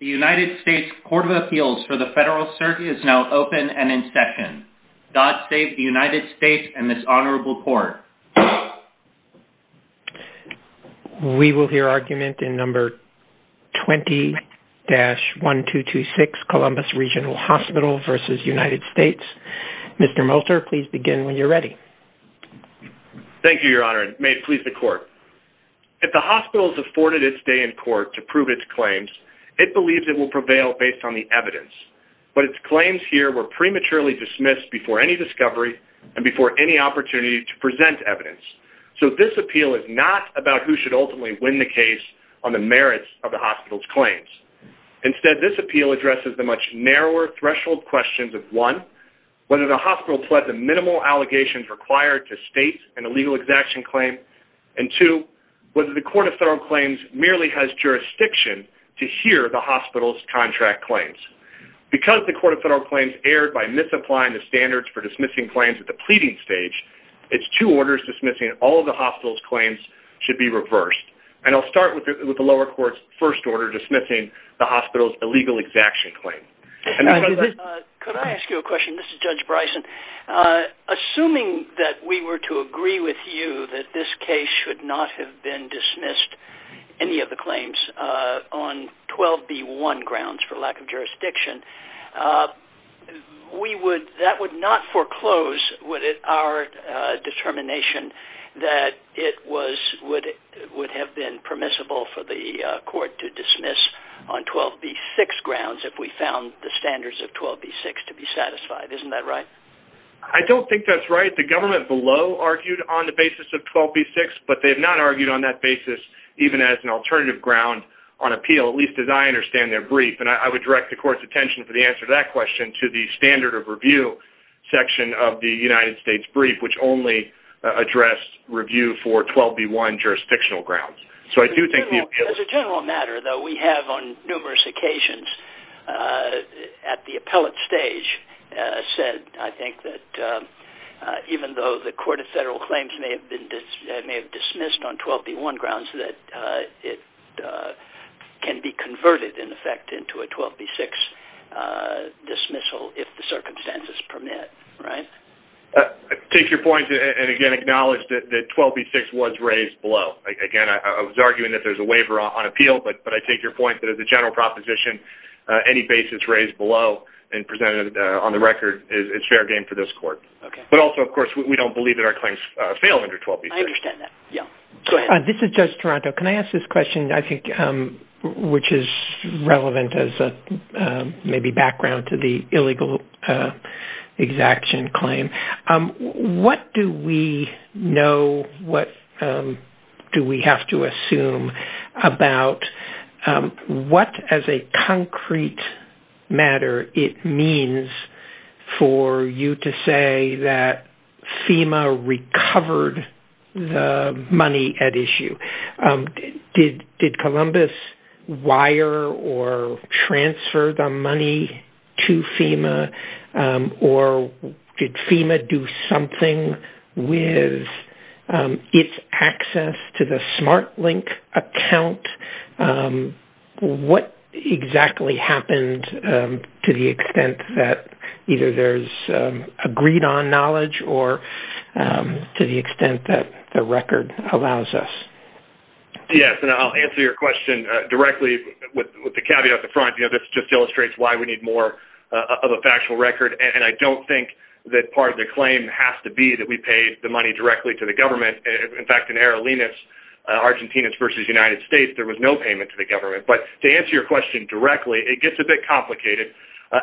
The United States Court of Appeals for the Federal Circuit is now open and in session. God save the United States and this Honorable Court. We will hear argument in number 20-1226 Columbus Regional Hospital v. United States. Mr. Molter, please begin when you're ready. Thank you, Your Honor. May it please the Court. If the hospital has afforded its day in court to prove its claims, it believes it will prevail based on the evidence. But its claims here were prematurely dismissed before any discovery and before any opportunity to present evidence. So this appeal is not about who should ultimately win the case on the merits of the hospital's claims. Instead, this appeal addresses the much narrower threshold questions of, one, whether the hospital pled the minimal allegations required to state an illegal exaction claim, and two, whether the Court of Federal Claims merely has jurisdiction to hear the hospital's contract claims. Because the Court of Federal Claims erred by misapplying the standards for dismissing claims at the pleading stage, its two orders dismissing all of the hospital's claims should be reversed. And I'll start with the lower court's first order dismissing the hospital's illegal exaction claim. Could I ask you a question? This is Judge Bryson. Assuming that we were to agree with you that this case should not have been dismissed, any of the claims, on 12B1 grounds for lack of jurisdiction, we would, that would not foreclose, would it, our determination that it was, would have been permissible for the standards of 12B6 to be satisfied, isn't that right? I don't think that's right. The government below argued on the basis of 12B6, but they have not argued on that basis even as an alternative ground on appeal, at least as I understand their brief. And I would direct the Court's attention for the answer to that question to the standard of review section of the United States brief, which only addressed review for 12B1 jurisdictional grounds. So I do think the appeal... As a general matter, though, we have on numerous occasions at the appellate stage said, I think, that even though the Court of Federal Claims may have been, may have dismissed on 12B1 grounds, that it can be converted, in effect, into a 12B6 dismissal if the circumstances permit. Right? I take your point, and again, acknowledge that 12B6 was raised below. Again, I was arguing that there's a waiver on appeal, but I take your point that as a general proposition, any basis raised below and presented on the record is fair game for this Court. Okay. But also, of course, we don't believe that our claims fail under 12B6. I understand that. Yeah. Go ahead. This is Judge Toronto. Can I ask this question? I think, which is relevant as maybe background to the illegal exaction claim. What do we know, what do we have to assume about what, as a concrete matter, it means for you to say that FEMA recovered the money at issue? Did Columbus wire or transfer the money to FEMA, or did FEMA do something with its access to the SmartLink account? What exactly happened to the extent that either there's agreed on knowledge or to the extent that the record allows us? Yes. And I'll answer your question directly with the caveat at the front. This just illustrates why we need more of a factual record. And I don't think that part of the claim has to be that we paid the money directly to the government. In fact, in Errolinos, Argentinians versus United States, there was no payment to the government. But to answer your question directly, it gets a bit complicated.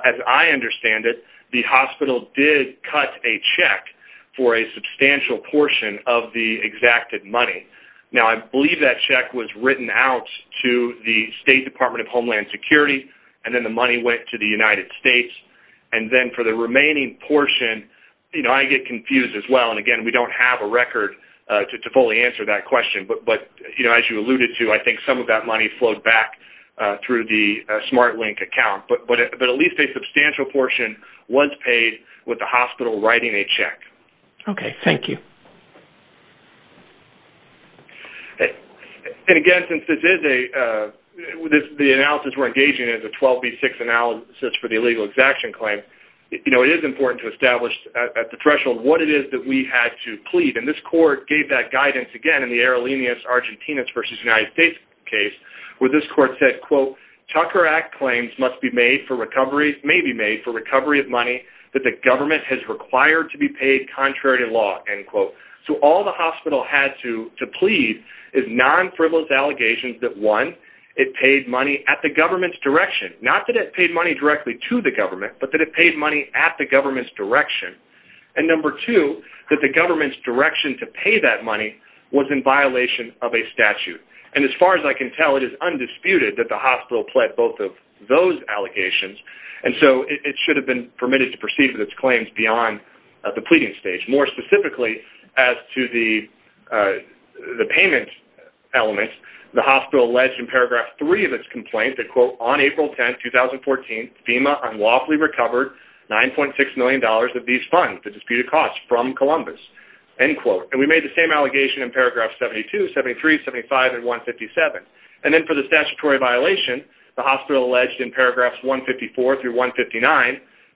As I understand it, the hospital did cut a check for a substantial portion of the exacted money. Now, I believe that check was written out to the State Department of Homeland Security, and then the money went to the United States. And then for the remaining portion, I get confused as well. And again, we don't have a record to fully answer that question. But as you alluded to, I think some of that money flowed back through the SmartLink account. But at least a substantial portion was paid with the hospital writing a check. Okay. Thank you. And again, since this is a... The analysis we're engaging in is a 12B6 analysis for the illegal exaction claim, it is important to establish at the threshold what it is that we had to plead. And this court gave that guidance, again, in the Errolinos, Argentinians versus United States case, where this court said, quote, Tucker Act claims must be made for recovery, may be made for recovery of money that the government has required to be paid contrary to law, end quote. So all the hospital had to plead is non-frivolous allegations that one, it paid money at the government's direction, not that it paid money directly to the government, but that it paid money at the government's direction. And number two, that the government's direction to pay that money was in violation of a statute. And as far as I can tell, it is undisputed that the hospital pled both of those allegations. And so it should have been permitted to proceed with its claims beyond the pleading stage. More specifically, as to the payment elements, the hospital alleged in paragraph three of its complaint that, quote, on April 10, 2014, FEMA unlawfully recovered $9.6 million of these funds, the disputed costs, from Columbus, end quote. And we made the same allegation in paragraph 72, 73, 75, and 157. And then for the statutory violation, the hospital alleged in paragraphs 154 through 159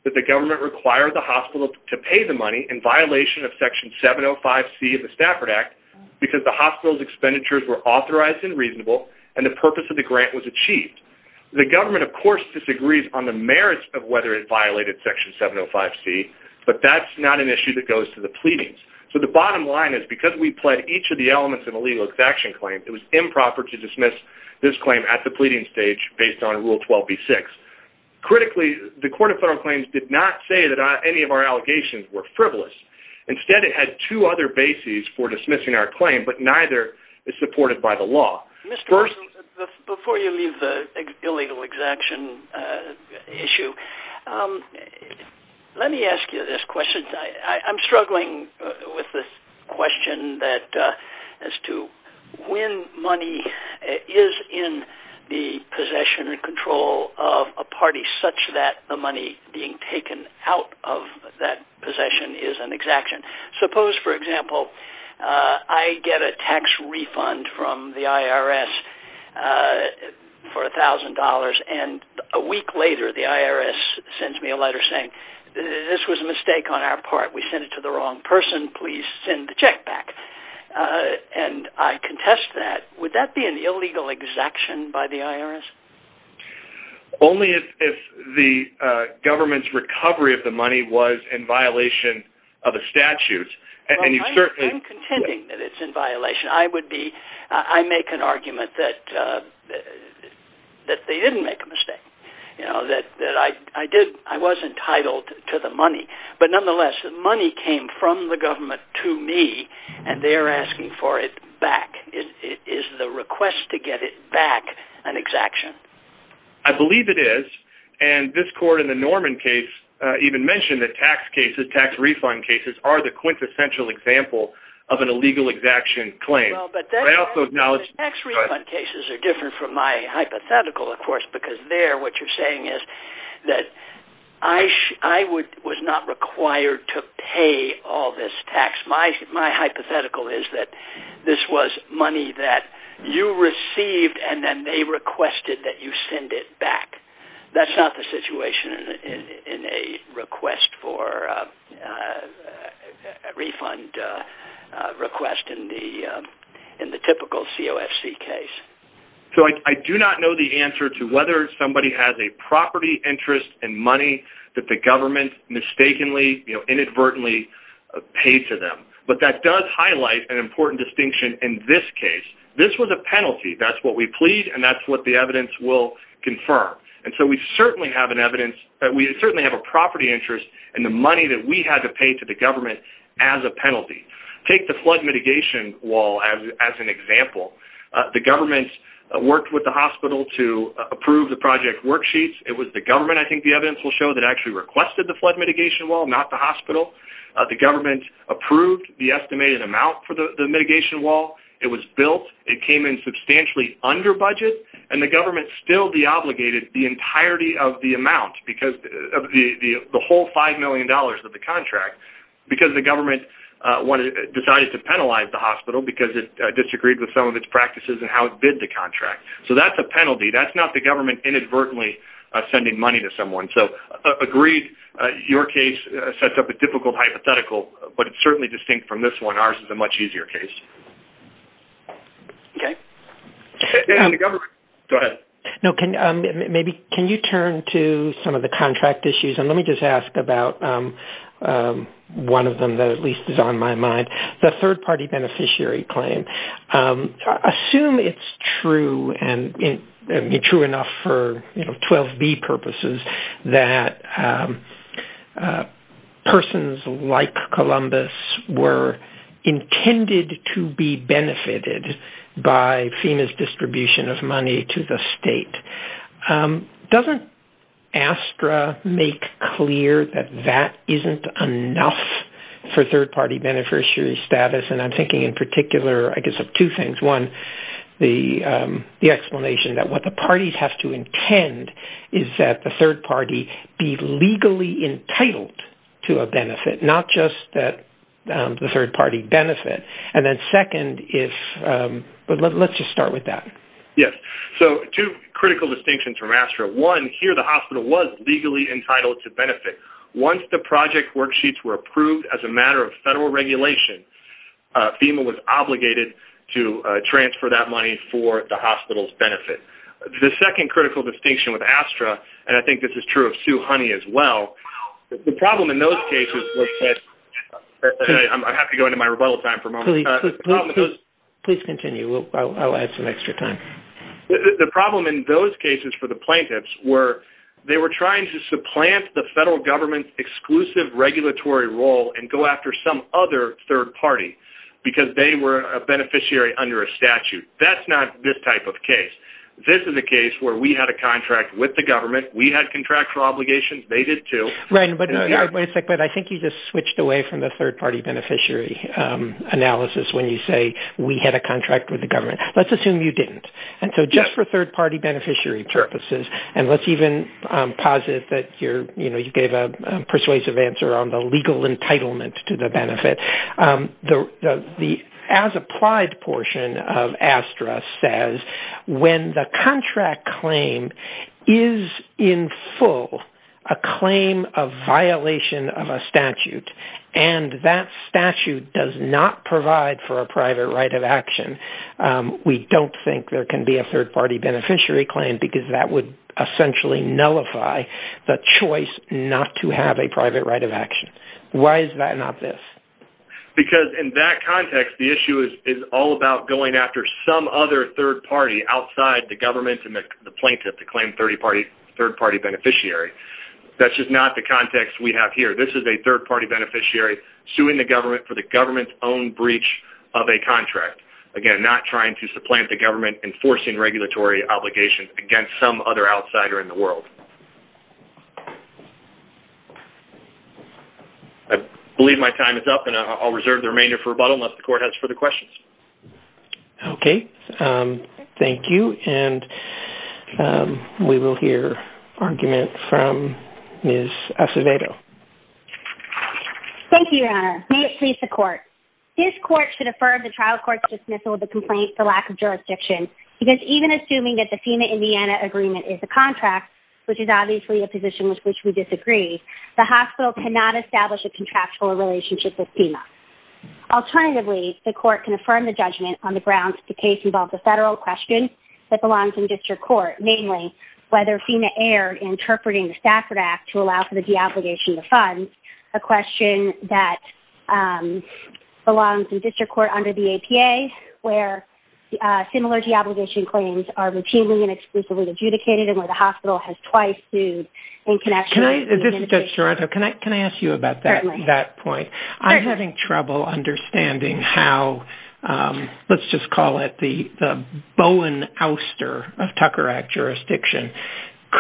that the government required the hospital to pay the money in violation of section 705C of the Stafford Act because the hospital's expenditures were authorized and reasonable and the purpose of the grant was achieved. The government, of course, disagrees on the merits of whether it violated section 705C, but that's not an issue that goes to the pleadings. So the bottom line is, because we pled each of the elements in a legal exaction claim, it was improper to dismiss this claim at the pleading stage based on Rule 12b-6. Critically, the Court of Federal Claims did not say that any of our allegations were frivolous. Instead, it had two other bases for dismissing our claim, but neither is supported by the law. First... Mr. Wilson, before you leave the illegal exaction issue, let me ask you this question. I'm struggling with the question that as to when money is in the possession and control of a party such that the money being taken out of that possession is an exaction. Suppose, for example, I get a tax refund from the IRS for $1,000 and a week later the IRS sends me a letter saying, this was a mistake on our part. We sent it to the wrong person. Please send the check back. And I contest that. Would that be an illegal exaction by the IRS? Only if the government's recovery of the money was in violation of the statutes, and you certainly... I'm contending that it's in violation. I would be... ...that they didn't make a mistake, that I was entitled to the money. But nonetheless, the money came from the government to me, and they're asking for it back. Is the request to get it back an exaction? I believe it is. And this court in the Norman case even mentioned that tax cases, tax refund cases, are the quintessential example of an illegal exaction claim. Well, but then... I also acknowledge... ...tax refund cases are different from my hypothetical, of course, because there what you're saying is that I was not required to pay all this tax. My hypothetical is that this was money that you received and then they requested that you send it back. That's not the situation in a request for a refund request in the typical COFC case. So I do not know the answer to whether somebody has a property interest and money that the government mistakenly, you know, inadvertently paid to them. But that does highlight an important distinction in this case. This was a penalty. That's what we plead and that's what the evidence will confirm. And so we certainly have an evidence that we certainly have a property interest and the money that we had to pay to the government as a penalty. Take the flood mitigation wall as an example. The government worked with the hospital to approve the project worksheets. It was the government, I think the evidence will show, that actually requested the flood mitigation wall, not the hospital. The government approved the estimated amount for the mitigation wall. It was built. It came in substantially under budget and the government still deobligated the entirety of the amount because of the whole $5 million of the contract because the government decided to penalize the hospital because it disagreed with some of its practices and how it bid the contract. So that's a penalty. That's not the government inadvertently sending money to someone. So agreed, your case sets up a difficult hypothetical, but it's certainly distinct from this one. Ours is a much easier case. Okay. Go ahead. No, can maybe, can you turn to some of the contract issues and let me just ask about one of them that at least is on my mind. The third party beneficiary claim, assume it's true and true enough for 12B purposes that persons like Columbus were intended to be benefited by FEMA's distribution of money to the state. Doesn't ASTRA make clear that that isn't enough for third party beneficiary status? And I'm thinking in particular, I guess of two things, one, the explanation that what the third party be legally entitled to a benefit, not just that the third party benefit. And then second is, but let's just start with that. Yes. So two critical distinctions from ASTRA, one, here the hospital was legally entitled to benefit. Once the project worksheets were approved as a matter of federal regulation, FEMA was obligated to transfer that money for the hospital's benefit. The second critical distinction with ASTRA, and I think this is true of Sue Honey as well, the problem in those cases was that, I have to go into my rebuttal time for a moment. Please continue. I'll add some extra time. The problem in those cases for the plaintiffs were they were trying to supplant the federal government's exclusive regulatory role and go after some other third party because they were a beneficiary under a statute. That's not this type of case. This is a case where we had a contract with the government. We had contractual obligations. They did too. Right. But I think you just switched away from the third party beneficiary analysis when you say we had a contract with the government. Let's assume you didn't. And so just for third party beneficiary purposes, and let's even posit that you gave a persuasive answer on the legal entitlement to the benefit. The as applied portion of ASTRA says when the contract claim is in full a claim of violation of a statute and that statute does not provide for a private right of action, we don't think there can be a third party beneficiary claim because that would essentially nullify the choice not to have a private right of action. Why is that not this? Because in that context, the issue is all about going after some other third party outside the government and the plaintiff to claim third party beneficiary. That's just not the context we have here. This is a third party beneficiary suing the government for the government's own breach of a contract. Again, not trying to supplant the government enforcing regulatory obligations against some other outsider in the world. I believe my time is up and I'll reserve the remainder for rebuttal unless the court has further questions. Okay. Thank you. And we will hear arguments from Ms. Acevedo. Thank you, Your Honor. May it please the court. This court should defer the trial court's dismissal of the complaint for lack of jurisdiction because even assuming that the FEMA-Indiana agreement is the contract, which is obviously a position with which we disagree, the hospital cannot establish a contractual relationship with FEMA. Alternatively, the court can affirm the judgment on the grounds that the case involves a federal question that belongs in district court, namely whether FEMA erred in interpreting the Stafford Act to allow for the deobligation to fund a question that belongs in district court under the APA where similar deobligation claims are routinely and exclusively adjudicated where the hospital has twice sued in connection with the adjudication. Judge Toronto, can I ask you about that point? I'm having trouble understanding how, let's just call it the Bowen ouster of Tucker Act jurisdiction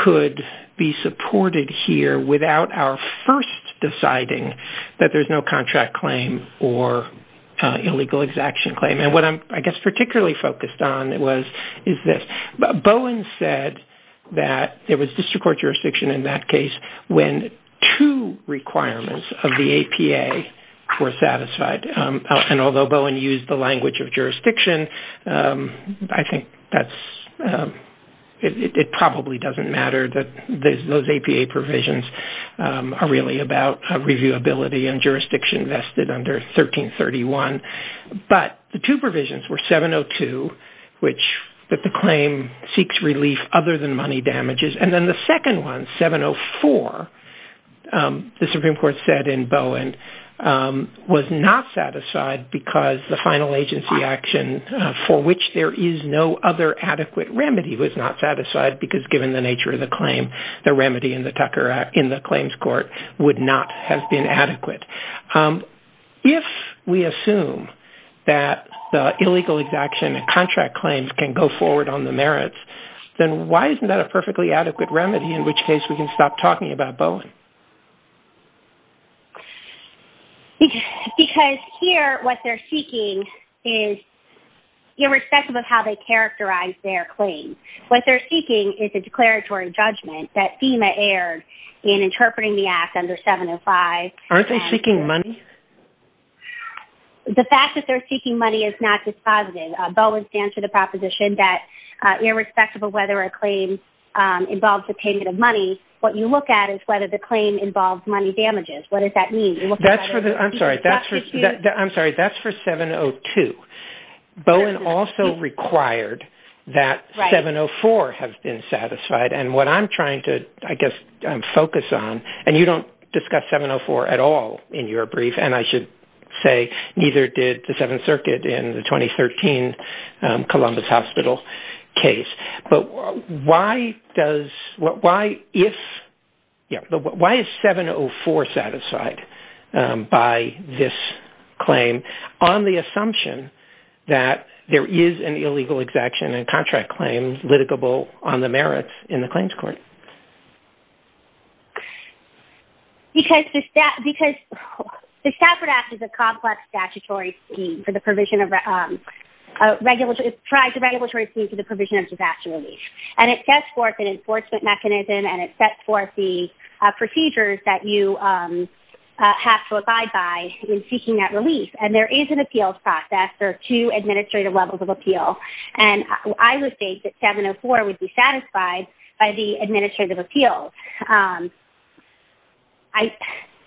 could be supported here without our first deciding that there's no contract claim or illegal exaction claim. What I'm particularly focused on is this. Bowen said that there was district court jurisdiction in that case when two requirements of the APA were satisfied. Although Bowen used the language of jurisdiction, I think it probably doesn't matter that those APA provisions are really about reviewability and jurisdiction vested under 1331. But the two provisions were 702, which that the claim seeks relief other than money damages. And then the second one, 704, the Supreme Court said in Bowen was not satisfied because the final agency action for which there is no other adequate remedy was not satisfied because given the nature of the claim, the remedy in the Tucker Act in the claims court would not have been adequate. If we assume that the illegal exaction and contract claims can go forward on the merits, then why isn't that a perfectly adequate remedy in which case we can stop talking about Bowen? Because here what they're seeking is irrespective of how they characterize their claim, what they're seeking is a declaratory judgment that FEMA aired in interpreting the act under 705. Aren't they seeking money? The fact that they're seeking money is not dispositive. Bowen stands for the proposition that irrespective of whether a claim involves the payment of money, what you look at is whether the claim involves money damages. What does that mean? I'm sorry, that's for 702. Bowen also required that 704 have been satisfied. What I'm trying to focus on, and you don't discuss 704 at all in your brief, and I should say neither did the Seventh Circuit in the 2013 Columbus Hospital case, but why is 704 satisfied by this claim on the assumption that there is an illegal exaction and contract claim litigable on the merits in the claims court? Because the Stafford Act is a complex statutory scheme for the provision of, it's a regulatory scheme for the provision of exaction relief. And it sets forth an enforcement mechanism and it sets forth the procedures that you have to abide by in seeking that relief. And there is an appeals process. There are two administrative levels of appeal. And I would state that 704 would be satisfied by the administrative appeal.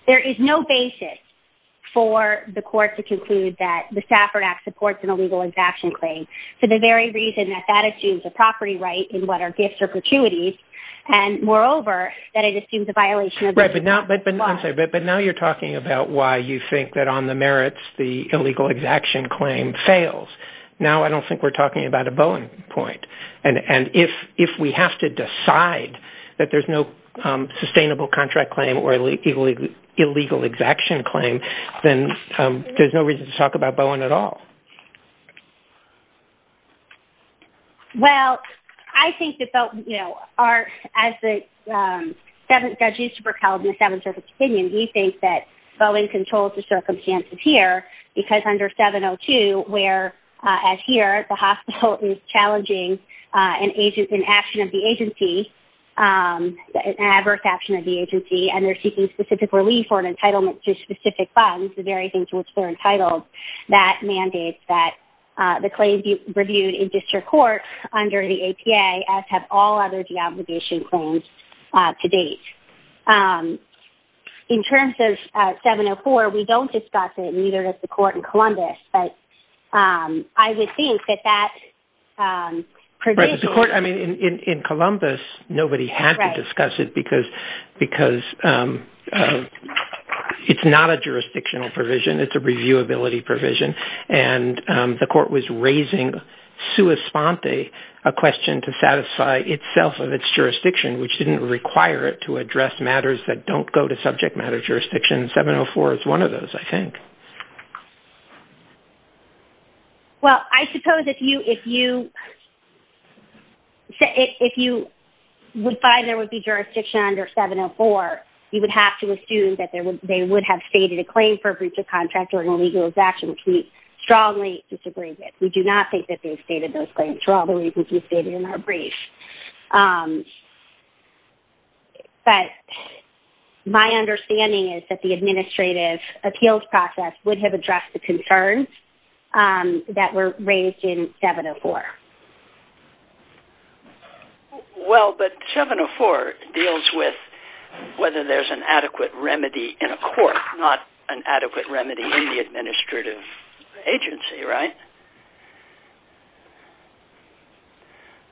There is no basis for the court to conclude that the Stafford Act supports an illegal exaction claim for the very reason that that assumes a property right in what are gifts or gratuities, and moreover, that it assumes a violation of the law. Right, but now you're talking about why you think that on the merits, the illegal exaction claim fails. Now I don't think we're talking about a Bowen point. And if we have to decide that there's no sustainable contract claim or illegal exaction claim, then there's no reason to talk about Bowen at all. Well, I think that, you know, as the seventh judge used to propel in the Seventh Circuit under 702 where, as here, the hospital is challenging an action of the agency, an adverse action of the agency, and they're seeking specific relief or an entitlement to specific funds, the very things to which they're entitled, that mandates that the claim be reviewed in district court under the APA as have all other deobligation claims to date. In terms of 704, we don't discuss it, neither does the court in Columbus, but I would think that that provision... Right, the court, I mean, in Columbus, nobody had to discuss it because it's not a jurisdictional provision, it's a reviewability provision, and the court was raising sua sponte, a question to satisfy itself of its jurisdiction, which didn't require it to address matters that don't go to subject matter jurisdiction. 704 is one of those, I think. Well, I suppose if you would find there would be jurisdiction under 704, you would have to assume that they would have stated a claim for breach of contract or an illegal exaction, which we strongly disagree with. We do not think that they stated those claims for all the reasons you stated in our brief. But my understanding is that the administrative appeals process would have addressed the concerns that were raised in 704. Well, but 704 deals with whether there's an adequate remedy in a court, not an adequate remedy in the administrative agency, right?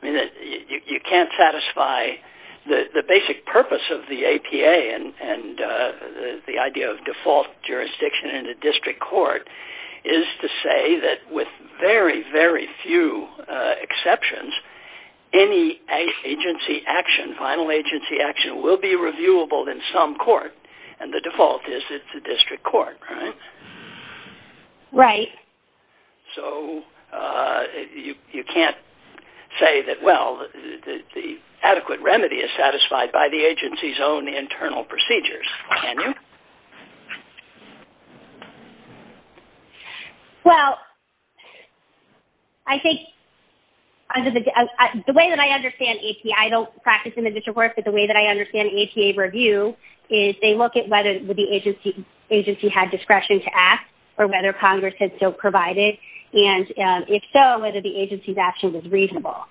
You can't satisfy... The basic purpose of the APA and the idea of default jurisdiction in a district court is to say that with very, very few exceptions, any agency action, final agency action, will be reviewable in some court. And the default is it's a district court, right? Right. So you can't say that, well, the adequate remedy is satisfied by the agency's own internal procedures, can you? Well, I think the way that I understand APA, I don't practice in the district court, but the way that I understand APA review is they look at whether the agency had discretion to ask or whether Congress had still provided, and if so, whether the agency's action was reasonable.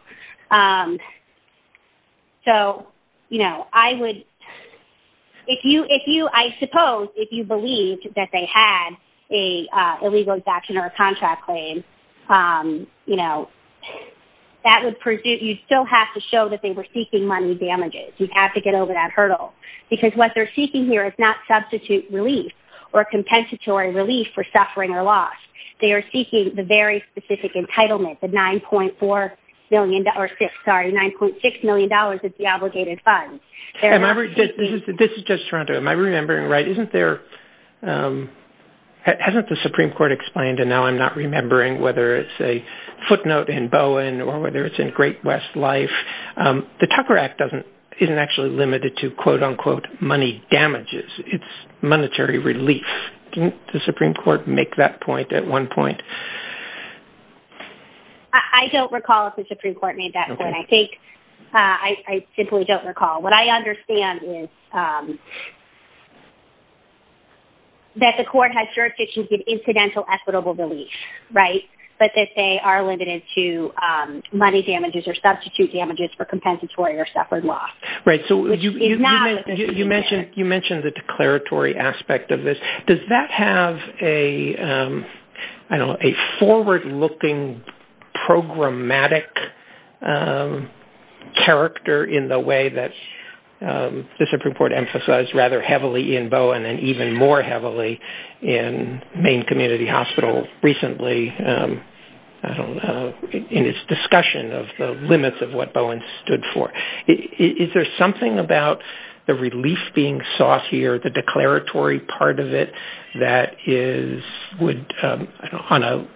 So, you know, I would... If you... I suppose if you believed that they had an illegal exaction or a contract claim, you still have to show that they were seeking money damages. You have to get over that hurdle. Because what they're seeking here is not substitute relief or compensatory relief for suffering or loss. They are seeking the very specific entitlement, the $9.4 million... Or, sorry, $9.6 million of the obligated funds. This is Judge Toronto. Am I remembering right? Isn't there... Hasn't the Supreme Court explained, and now I'm not remembering, whether it's a footnote in Bowen or whether it's in Great West Life, the Tucker Act isn't actually limited to, quote-unquote, money damages. It's monetary relief. Didn't the Supreme Court make that point at one point? I don't recall if the Supreme Court made that point. I think... I simply don't recall. What I understand is that the court has jurisdiction to give incidental equitable relief, right? But that they are limited to money damages or substitute damages for compensatory or suffered loss. Right, so you mentioned the declaratory aspect of this. Does that have a, I don't know, a forward-looking programmatic character in the way that the Supreme Court has emphasized rather heavily in Bowen and even more heavily in Maine Community Hospital recently, I don't know, in its discussion of the limits of what Bowen stood for. Is there something about the relief being sought here, the declaratory part of it, that would, on a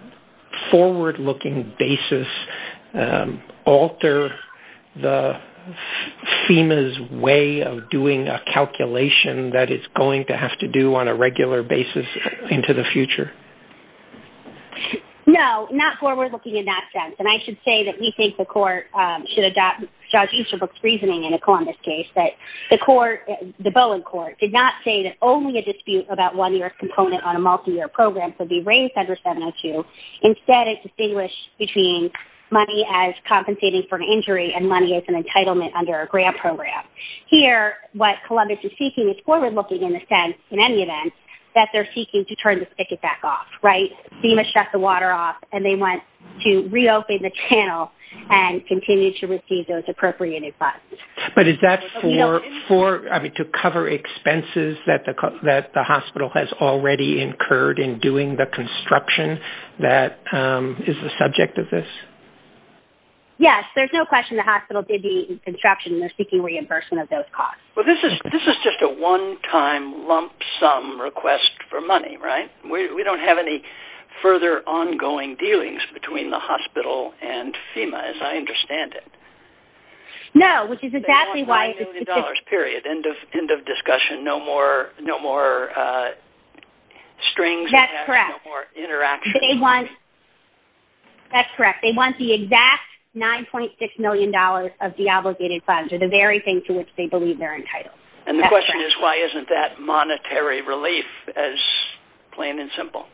forward-looking basis, alter FEMA's way of doing a calculation that it's going to have to do on a regular basis into the future? No, not forward-looking in that sense. And I should say that we think the court should adopt Judge Easterbrook's reasoning in a Columbus case that the Bowen court did not say that only a dispute about one-year component on a multi-year program could be raised under 702. Instead, it distinguished between money as compensating for an injury and money as an entitlement under a grant program. Here, what Columbus is seeking is forward-looking in the sense, in any event, that they're seeking to turn the spigot back off, right? FEMA shut the water off and they went to reopen the channel and continue to receive those appropriated funds. But is that to cover expenses that the hospital has already incurred in doing the construction that is the subject of this? Yes, there's no question the hospital did the construction and they're seeking reimbursement of those costs. Well, this is just a one-time lump sum request for money, right? We don't have any further ongoing dealings between the hospital and FEMA, as I understand it. No, which is exactly why... They want $5 million, period. End of discussion. No more strings attached. That's correct. No more interaction. That's correct. They want the exact $9.6 million of the obligated funds or the very thing to which they believe they're entitled. And the question is, why isn't that monetary relief as plain and simple?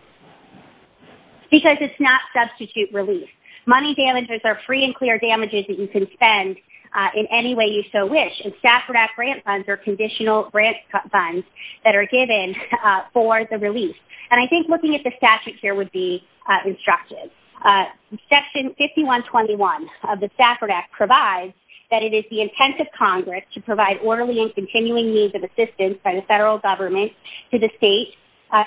Because it's not substitute relief. Money damages are free and clear damages that you can spend in any way you so wish. And Stafford Act grant funds are conditional grant funds that are given for the relief. And I think looking at the statute here would be instructive. Section 5121 of the Stafford Act provides that it is the intent of Congress to provide orderly and continuing means of assistance by the federal government to the state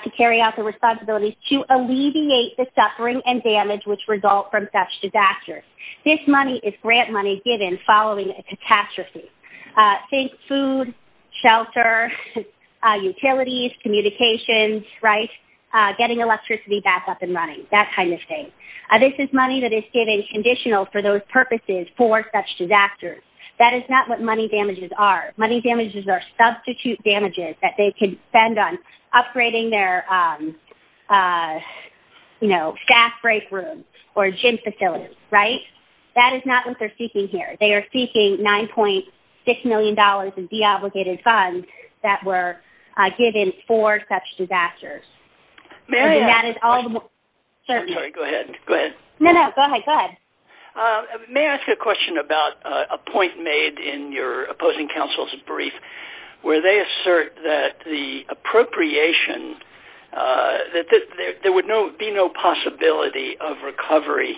to carry out the responsibilities to alleviate the suffering and damage which result from such disasters. This money is grant money given following a catastrophe. Think food, shelter, utilities, communications, right? Getting electricity back up and running, that kind of thing. This is money that is given conditional for those purposes for such disasters. That is not what money damages are. Money damages are substitute damages that they can spend on upgrading their, you know, staff break rooms or gym facilities, right? That is not what they're seeking here. They are seeking $9.6 million in deobligated funds that were given for such disasters. And that is all the more... Sorry, go ahead, go ahead. No, no, go ahead, go ahead. May I ask a question about a point made in your opposing counsel's brief where they assert that the appropriation, that there would be no possibility of recovery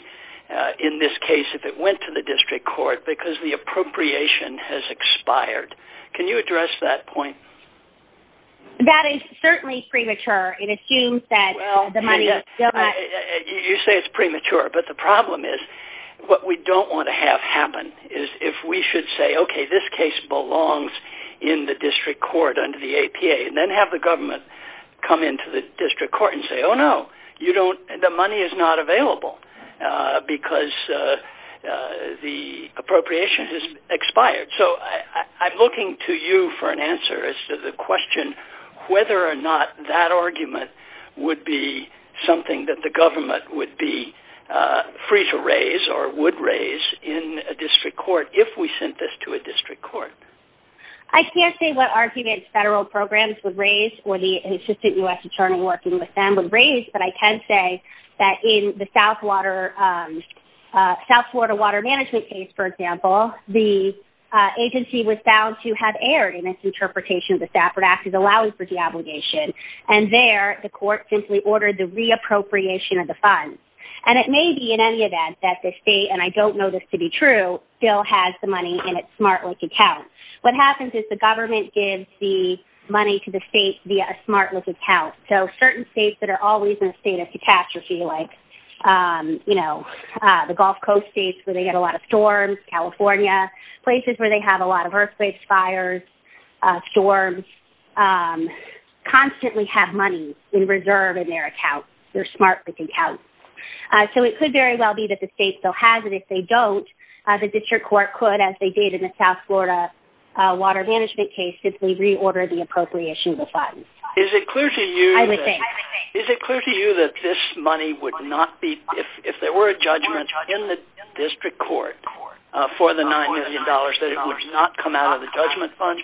in this case if it went to the district court because the appropriation has expired. Can you address that point? That is certainly premature. It assumes that the money is still not... You say it's premature, but the problem is what we don't want to have happen is if we should say, okay, this case belongs in the district court under the APA and then have the government come into the district court and say, oh, no, you don't, the money is not available because the appropriation has expired. So I'm looking to you for an answer as to the question whether or not that argument would be something that the government would be free to raise or would raise in a district court if we sent this to a district court. I can't say what arguments federal programs would raise or the Assistant U.S. Attorney working with them would raise, but I can say that in the South Florida Water Management case, for example, the agency was found to have erred in its interpretation of the Stafford Act as allowing for deobligation. And there, the court simply ordered the reappropriation of the funds. And it may be in any event that the state, and I don't know this to be true, still has the money in its SmartLink account. What happens is the government gives the money to the state via a SmartLink account. So certain states that are always in a state of catastrophe like, you know, the Gulf Coast states where they get a lot of storms, California, places where they have a lot of earthquakes, fires, storms, constantly have money in reserve in their account, their SmartLink account. So it could very well be that the state still has it. If they don't, the district court could, as they did in the South Florida Water Management case, Is it clear to you that this money would not be, if there were a judgment in the district court for the $9 million, that it would not come out of the judgment fund?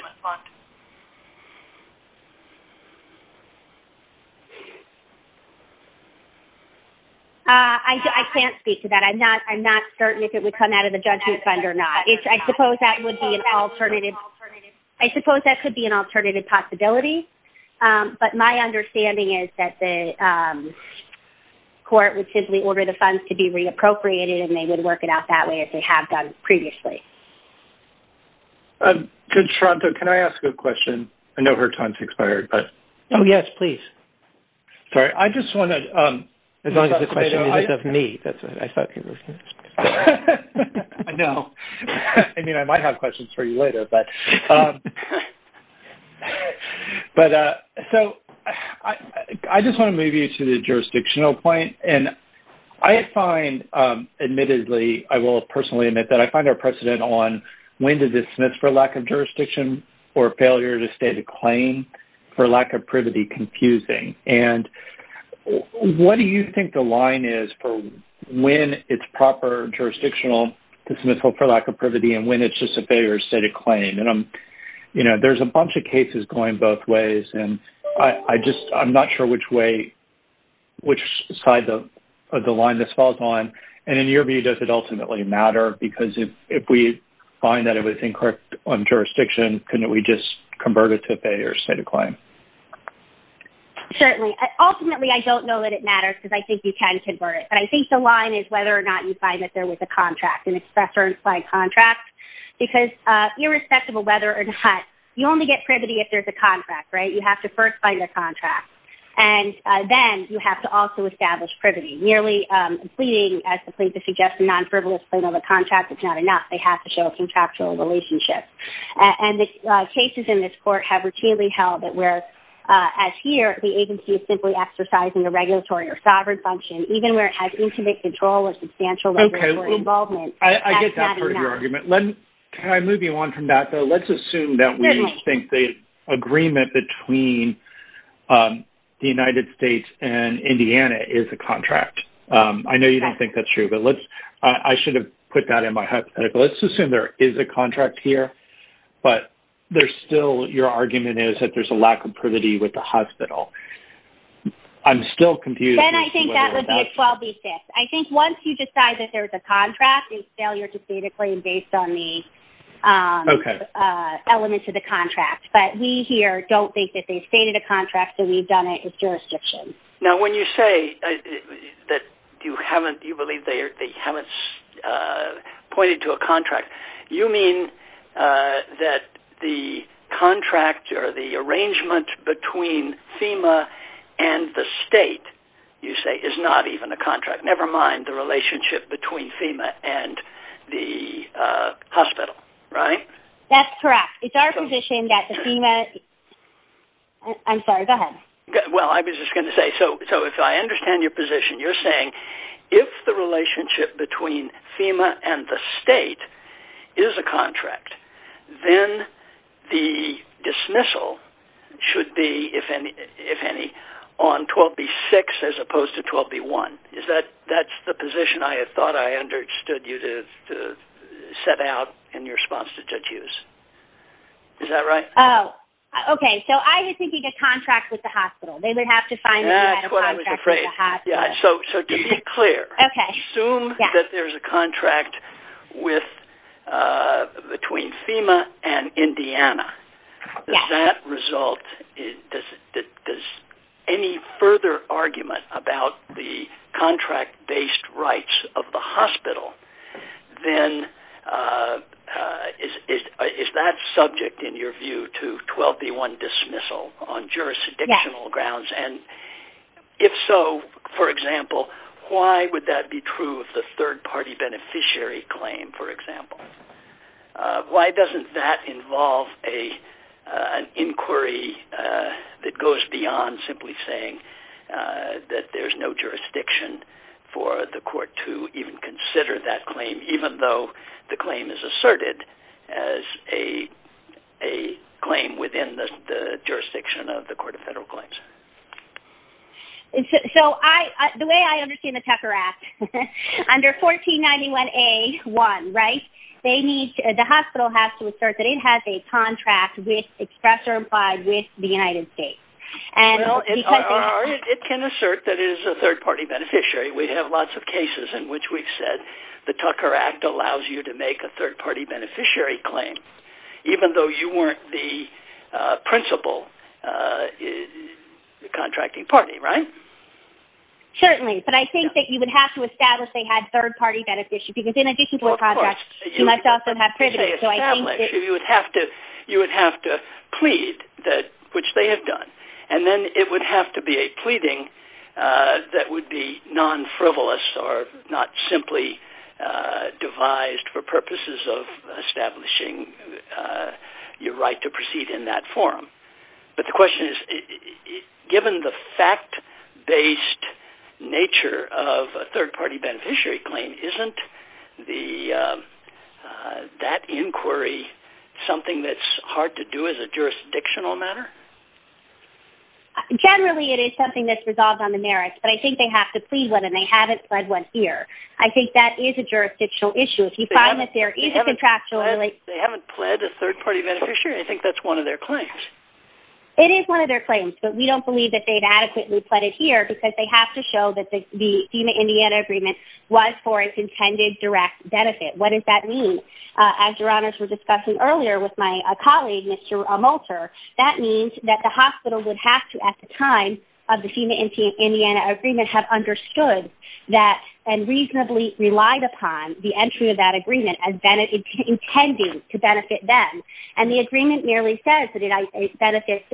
I can't speak to that. I'm not certain if it would come out of the judgment fund or not. I suppose that would be an alternative. I suppose that could be an alternative possibility. But my understanding is that the court would simply order the funds to be reappropriated and they would work it out that way, as they have done previously. Good. Toronto, can I ask a question? I know her time has expired. Oh, yes, please. Sorry. I just want to... As long as the question is of me. That's what I thought. I know. I mean, I might have questions for you later. But so I just want to move you to the jurisdictional point. And I find, admittedly, I will personally admit that I find our precedent on when to dismiss for lack of jurisdiction or failure to state a claim for lack of privity confusing. And what do you think the line is for when it's proper jurisdictional to dismiss for lack of privity and when it's just a failure to state a claim? And, you know, there's a bunch of cases going both ways. And I'm not sure which side of the line this falls on. And in your view, does it ultimately matter? Because if we find that it was incorrect on jurisdiction, couldn't we just convert it to a failure to state a claim? Certainly. Ultimately, I don't know that it matters because I think you can convert it. But I think the line is whether or not you find that there was a contract, an express or implied contract. Because irrespective of whether or not, you only get privity if there's a contract, right? You have to first find a contract. And then you have to also establish privity. Nearly pleading as the plaintiff suggests, a non-frivolous claim of a contract, it's not enough. They have to show a contractual relationship. And the cases in this court have routinely held that whereas as here, the agency is simply exercising a regulatory or sovereign function, even where it has intimate control or substantial regulatory involvement. I get that part of your argument. Can I move you on from that, though? Let's assume that we think the agreement between the United States and Indiana is a contract. I know you don't think that's true, but I should have put that in my hypothetical. Let's assume there is a contract here, but there's still your argument is that there's a lack of privity with the hospital. I'm still confused as to whether that's true. Then I think that would be a 12B6. I think once you decide that there's a contract, it's failure to state a claim based on the elements of the contract. But we here don't think that they've stated a contract, that we've done it. It's jurisdiction. Now, when you say that you believe they haven't pointed to a contract, you mean that the contract or the arrangement between FEMA and the state, you say, is not even a contract, never mind the relationship between FEMA and the hospital, right? That's correct. It's our position that FEMA – I'm sorry, go ahead. Well, I was just going to say, so if I understand your position, you're saying if the relationship between FEMA and the state is a contract, then the dismissal should be, if any, on 12B6 as opposed to 12B1. That's the position I had thought I understood you to set out in your response to Judge Hughes. Is that right? Oh, okay. So I was thinking a contract with the hospital. They would have to find a contract with the hospital. That's what I was afraid. So to be clear, assume that there's a contract between FEMA and Indiana. Does that result – does any further argument about the contract-based rights of the hospital, then is that subject, in your view, to 12B1 dismissal on jurisdictional grounds? Yes. And if so, for example, why would that be true of the third-party beneficiary claim, for example? Why doesn't that involve an inquiry that goes beyond simply saying that there's no jurisdiction for the court to even consider that claim, even though the claim is asserted as a claim within the jurisdiction of the Court of Federal Claims? So the way I understand the Tucker Act, under 1491A1, right, the hospital has to assert that it has a contract with, expressed or implied, with the United States. Well, it can assert that it is a third-party beneficiary. We have lots of cases in which we've said the Tucker Act allows you to make a third-party beneficiary claim, even though you weren't the principal contracting party, right? Certainly. But I think that you would have to establish they had third-party beneficiary, because in addition to a contract, you must also have privileges. You would have to plead, which they have done, and then it would have to be a pleading that would be non-frivolous or not simply devised for purposes of establishing your right to proceed in that forum. But the question is, given the fact-based nature of a third-party beneficiary claim, isn't that inquiry something that's hard to do as a jurisdictional matter? Generally, it is something that's resolved on the merits, but I think they have to plead one and they haven't pled one here. I think that is a jurisdictional issue. If you find that there is a contractual... They haven't pled a third-party beneficiary. I think that's one of their claims. It is one of their claims, but we don't believe that they've adequately pled it here, because they have to show that the FEMA-Indiana agreement was for its intended direct benefit. What does that mean? As Your Honors were discussing earlier with my colleague, Mr. Molter, that means that the hospital would have to, at the time of the FEMA-Indiana agreement, have understood that and reasonably relied upon the entry of that agreement as intended to benefit them. And the agreement merely says that it benefits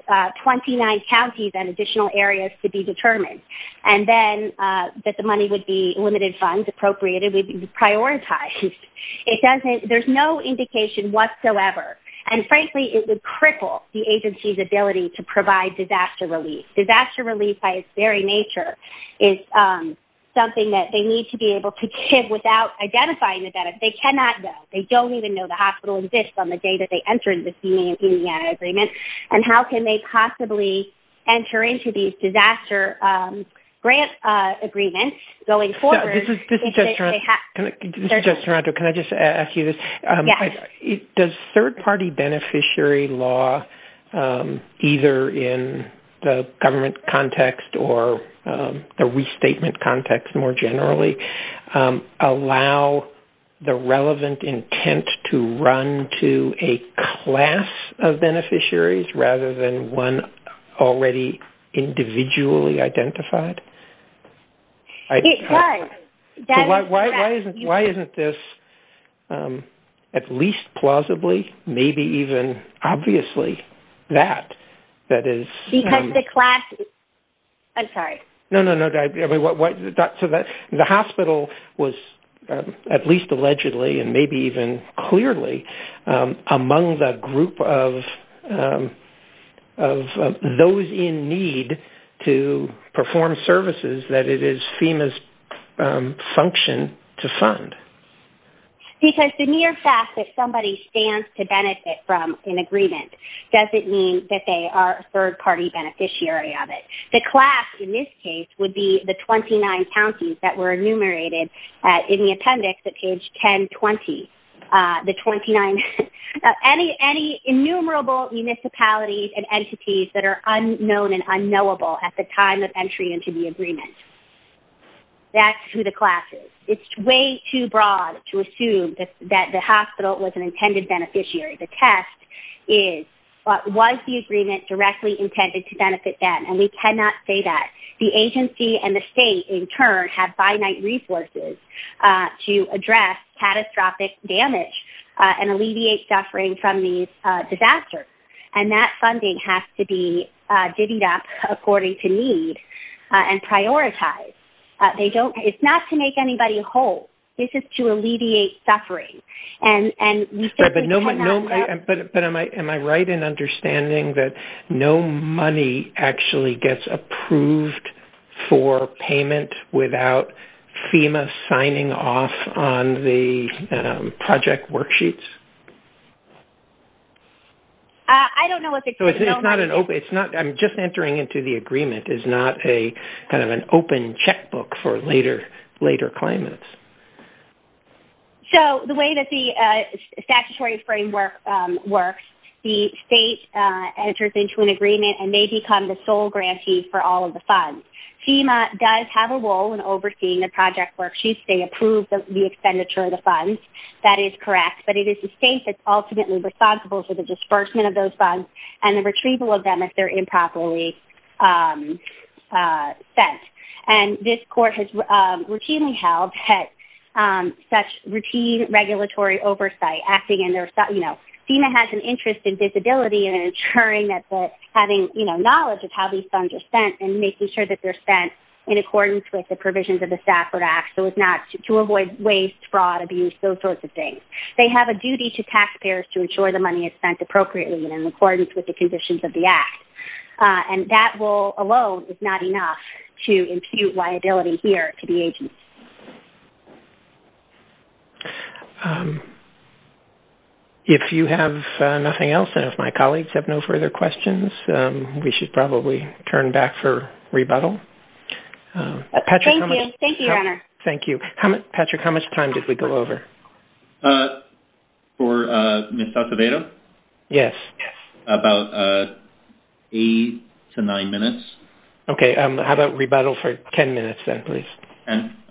29 counties and additional areas to be determined, and then that the money would be limited funds appropriated would be prioritized. There's no indication whatsoever, and frankly it would cripple the agency's ability to provide disaster relief. Disaster relief, by its very nature, is something that they need to be able to give without identifying the benefit. They cannot know. They don't even know the hospital exists on the day that they entered the FEMA-Indiana agreement, and how can they possibly enter into these disaster grant agreements going forward? This is Judge Taranto. Can I just ask you this? Yes. Does third-party beneficiary law, either in the government context or the restatement context more generally, allow the relevant intent to run to a class of beneficiaries rather than one already individually identified? It does. Why isn't this, at least plausibly, maybe even obviously, that is... Because the class... I'm sorry. No, no, no. The hospital was at least allegedly and maybe even clearly among the group of those in need to perform services that it is FEMA's function to fund. Because the mere fact that somebody stands to benefit from an agreement doesn't mean that they are a third-party beneficiary of it. The class, in this case, would be the 29 counties that were enumerated in the appendix at page 1020. The 29... Any enumerable municipalities and entities that are unknown and unknowable at the time of entry into the agreement, that's who the class is. It's way too broad to assume that the hospital was an intended beneficiary. The test is, was the agreement directly intended to benefit them? And we cannot say that. The agency and the state, in turn, have finite resources to address catastrophic damage and alleviate suffering from these disasters. And that funding has to be divvied up according to need and prioritized. They don't... It's not to make anybody whole. This is to alleviate suffering. And we simply cannot... But am I right in understanding that no money actually gets approved for payment without FEMA signing off on the project worksheets? I don't know what the... So it's not an open... I'm just entering into the agreement. It's not kind of an open checkbook for later claimants. So the way that the statutory framework works, the state enters into an agreement and they become the sole grantees for all of the funds. FEMA does have a role in overseeing the project worksheets. They approve the expenditure of the funds. That is correct. But it is the state that's ultimately responsible for the disbursement of those funds and the retrieval of them if they're improperly sent. And this court has routinely held such routine regulatory oversight, acting in their... You know, FEMA has an interest in visibility and ensuring that the... and making sure that they're spent in accordance with the provisions of the Stafford Act so as not to avoid waste, fraud, abuse, those sorts of things. They have a duty to taxpayers to ensure the money is spent appropriately and in accordance with the conditions of the Act. And that role alone is not enough to impute liability here to the agency. If you have nothing else and if my colleagues have no further questions, we should probably turn back for rebuttal. Thank you. Thank you, Your Honor. Thank you. Patrick, how much time did we go over? For Ms. Salcedo? Yes. About eight to nine minutes. Okay. How about rebuttal for 10 minutes then, please?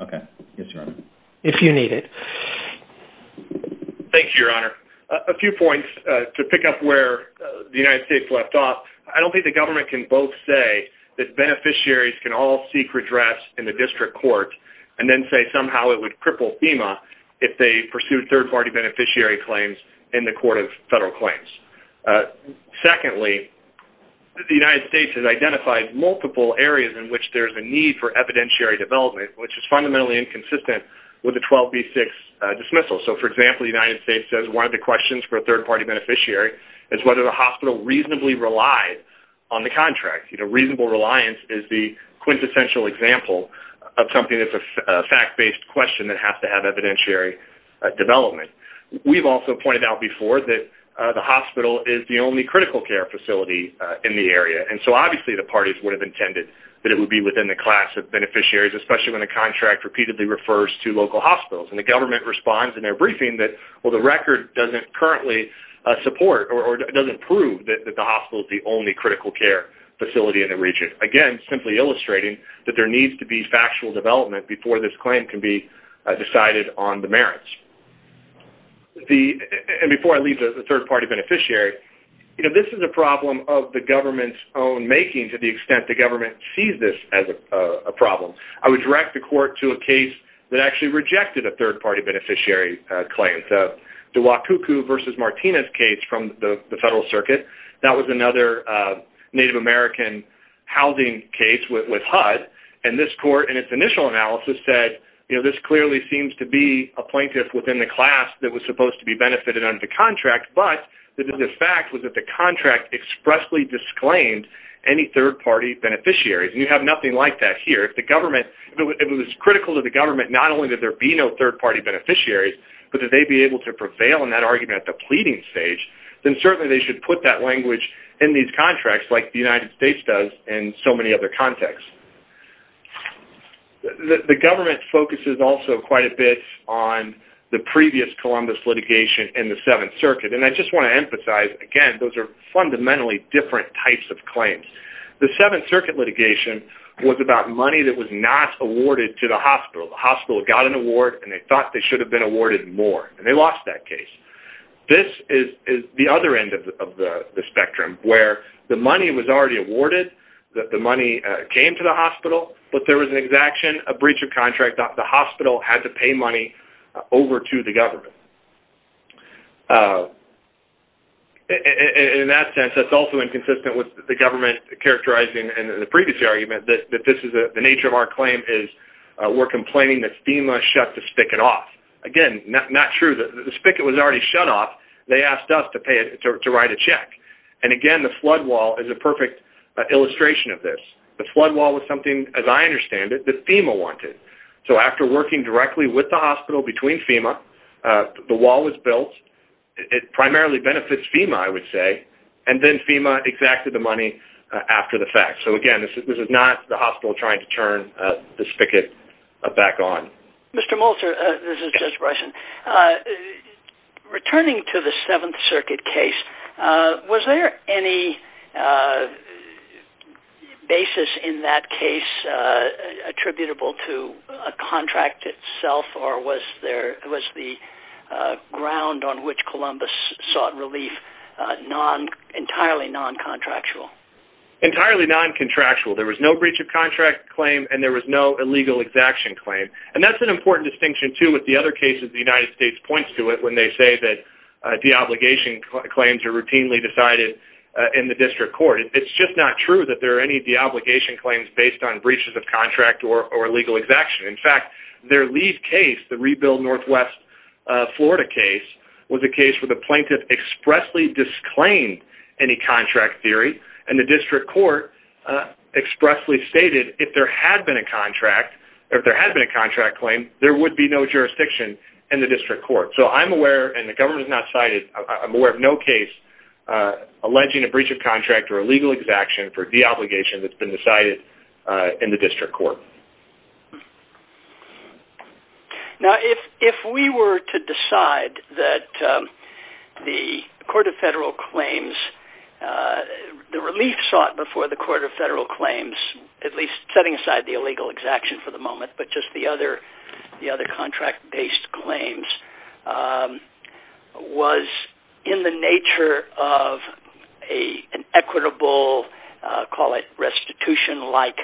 Okay. Yes, Your Honor. If you need it. Thank you, Your Honor. A few points to pick up where the United States left off. I don't think the government can both say that beneficiaries can all seek redress in the district court and then say somehow it would cripple FEMA if they pursued third-party beneficiary claims in the court of federal claims. Secondly, the United States has identified multiple areas in which there's a need for evidentiary development, which is fundamentally inconsistent with the 12B6 dismissal. So, for example, the United States says one of the questions for a third-party beneficiary is whether the hospital reasonably relies on the contract. You know, reasonable reliance is the quintessential example of something that's a fact-based question that has to have evidentiary development. We've also pointed out before that the hospital is the only critical care facility in the area, and so obviously the parties would have intended that it would be within the class of beneficiaries, especially when a contract repeatedly refers to local hospitals. And the government responds in their briefing that, well, the record doesn't currently support or doesn't prove that the hospital is the only critical care facility in the region, again, simply illustrating that there needs to be factual development before this claim can be decided on the merits. And before I leave the third-party beneficiary, you know, this is a problem of the government's own making to the extent the government sees this as a problem. I would direct the court to a case that actually rejected a third-party beneficiary claim, the Wakuku v. Martinez case from the Federal Circuit. That was another Native American housing case with HUD, and this court in its initial analysis said, you know, this clearly seems to be a plaintiff within the class that was supposed to be benefited under the contract, but the fact was that the contract expressly disclaimed any third-party beneficiaries. And you have nothing like that here. If the government, if it was critical to the government not only that there be no third-party beneficiaries, but that they be able to prevail in that argument at the pleading stage, then certainly they should put that language in these contracts like the United States does in so many other contexts. The government focuses also quite a bit on the previous Columbus litigation and the Seventh Circuit, and I just want to emphasize, again, those are fundamentally different types of claims. The Seventh Circuit litigation was about money that was not awarded to the hospital. The hospital got an award, and they thought they should have been awarded more, and they lost that case. This is the other end of the spectrum where the money was already awarded, that the money came to the hospital, but there was an exaction, a breach of contract. The hospital had to pay money over to the government. In that sense, that's also inconsistent with the government characterizing in the previous argument that this is the nature of our claim is we're complaining that FEMA shut the spigot off. Again, not true. The spigot was already shut off. They asked us to write a check. And, again, the flood wall is a perfect illustration of this. The flood wall was something, as I understand it, that FEMA wanted. So after working directly with the hospital between FEMA, the wall was built. It primarily benefits FEMA, I would say. And then FEMA exacted the money after the fact. So, again, this is not the hospital trying to turn the spigot back on. Mr. Molcher, this is Jeff Bryson. Returning to the Seventh Circuit case, was there any basis in that case attributable to a contract itself, or was the ground on which Columbus sought relief entirely non-contractual? Entirely non-contractual. There was no breach of contract claim, and there was no illegal exaction claim. And that's an important distinction, too, with the other cases. The United States points to it when they say that deobligation claims are routinely decided in the district court. It's just not true that there are any deobligation claims based on breaches of contract or illegal exaction. In fact, their lead case, the Rebuild Northwest Florida case, was a case where the plaintiff expressly disclaimed any contract theory, and the district court expressly stated if there had been a contract claim, there would be no jurisdiction in the district court. So I'm aware, and the government has not cited, I'm aware of no case alleging a breach of contract or illegal exaction for deobligation that's been decided in the district court. Now, if we were to decide that the Court of Federal Claims, the relief sought before the Court of Federal Claims, at least setting aside the illegal exaction for the moment, but just the other contract-based claims, was in the nature of an equitable, call it restitution-like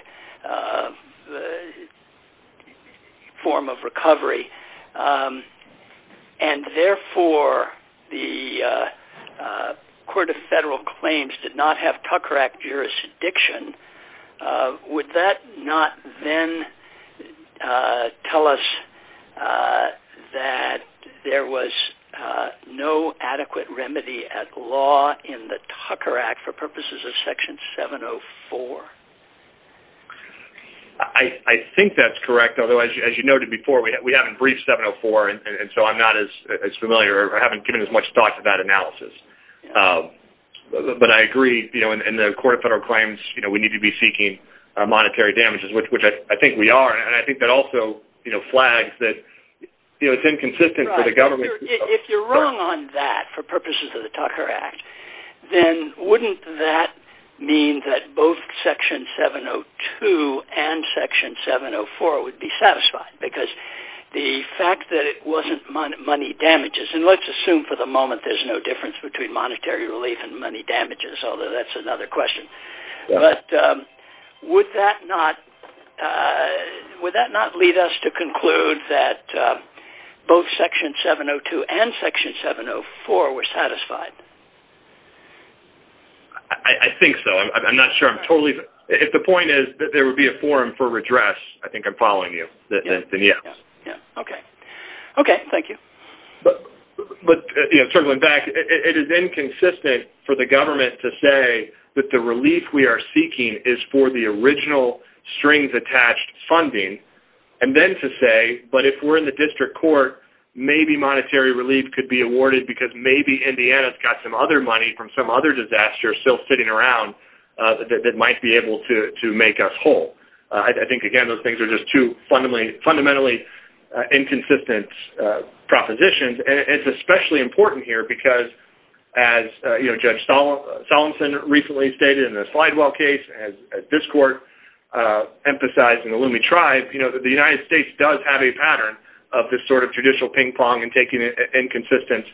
form of recovery, and therefore the Court of Federal Claims did not have Tucker Act jurisdiction, would that not then tell us that there was no adequate remedy at law in the Tucker Act for purposes of Section 704? I think that's correct, although as you noted before, we haven't briefed 704, and so I'm not as familiar, or I haven't given as much thought to that analysis. But I agree, in the Court of Federal Claims, we need to be seeking monetary damages, which I think we are, and I think that also flags that it's inconsistent for the government. If you're wrong on that for purposes of the Tucker Act, then wouldn't that mean that both Section 702 and Section 704 would be satisfied? Because the fact that it wasn't money damages, and let's assume for the moment there's no difference between monetary relief and money damages, although that's another question, but would that not lead us to conclude that both Section 702 and Section 704 were satisfied? I think so. I'm not sure. If the point is that there would be a forum for redress, I think I'm following you. Okay, thank you. Circling back, it is inconsistent for the government to say that the relief we are seeking is for the original strings-attached funding, and then to say, but if we're in the district court, maybe monetary relief could be awarded because maybe Indiana's got some other money from some other disaster still sitting around that might be able to make us whole. I think, again, those things are just two fundamentally inconsistent propositions, and it's especially important here because, as Judge Solemson recently stated in the Slidewell case, as this court emphasized in the Lume Tribe, the United States does have a pattern of this sort of judicial ping-pong and taking inconsistent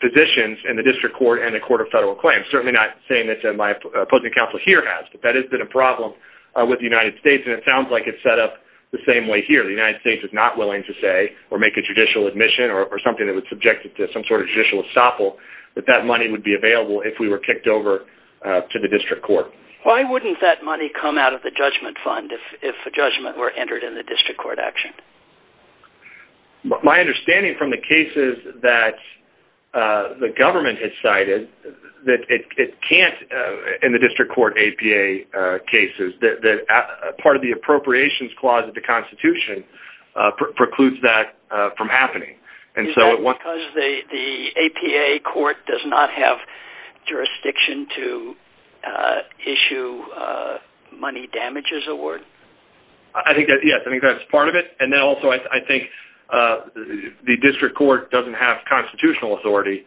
positions in the district court and the Court of Federal Claims. Certainly not saying that my opposing counsel here has, but that has been a problem with the United States, and it sounds like it's set up the same way here. The United States is not willing to say or make a judicial admission or something that would subject it to some sort of judicial estoppel that that money would be available if we were kicked over to the district court. Why wouldn't that money come out of the judgment fund if a judgment were entered in the district court action? My understanding from the cases that the government has cited, that it can't in the district court APA cases. Part of the appropriations clause of the Constitution precludes that from happening. Is that because the APA court does not have jurisdiction to issue money damages award? I think that's part of it. And then also I think the district court doesn't have constitutional authority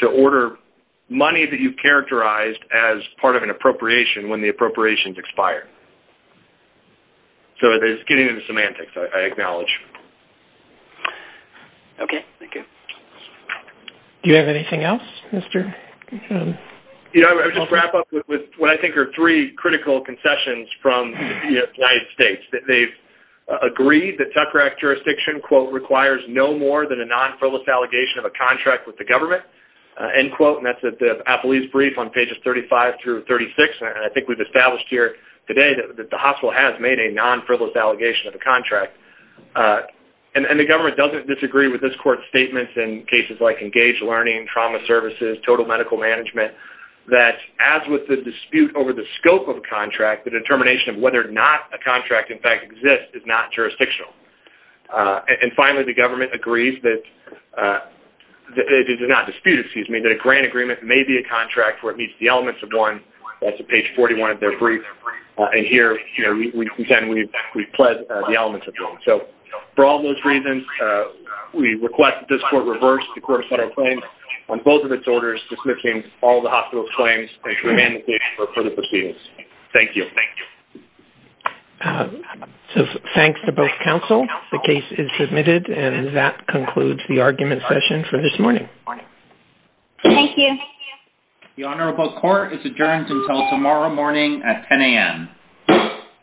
to order money that you've characterized as part of an appropriation when the appropriations expire. So it's getting into semantics, I acknowledge. Okay, thank you. Do you have anything else? I'll just wrap up with what I think are three critical concessions from the United States. They've agreed that Tucker Act jurisdiction quote, requires no more than a non-frivolous allegation of a contract with the government. End quote. And that's at the appellee's brief on pages 35 through 36. And I think we've established here today that the hospital has made a non-frivolous allegation of a contract. And the government doesn't disagree with this court's statements in cases like engaged learning, trauma services, total medical management, that as with the dispute over the scope of a contract, the determination of whether or not a contract in fact exists is not jurisdictional. And finally, the government agrees that, it is not dispute, excuse me, that a grant agreement may be a contract where it meets the elements of one. That's at page 41 of their brief. And here, you know, we pretend we've pled the elements of it. So for all those reasons, we request that this court reverse the court of federal claims on both of its orders dismissing all the hospital's claims and to amend the case for further proceedings. Thank you. So thanks to both counsel. The case is submitted. And that concludes the argument session for this morning. Thank you. The Honorable Court is adjourned until tomorrow morning at 10 a.m.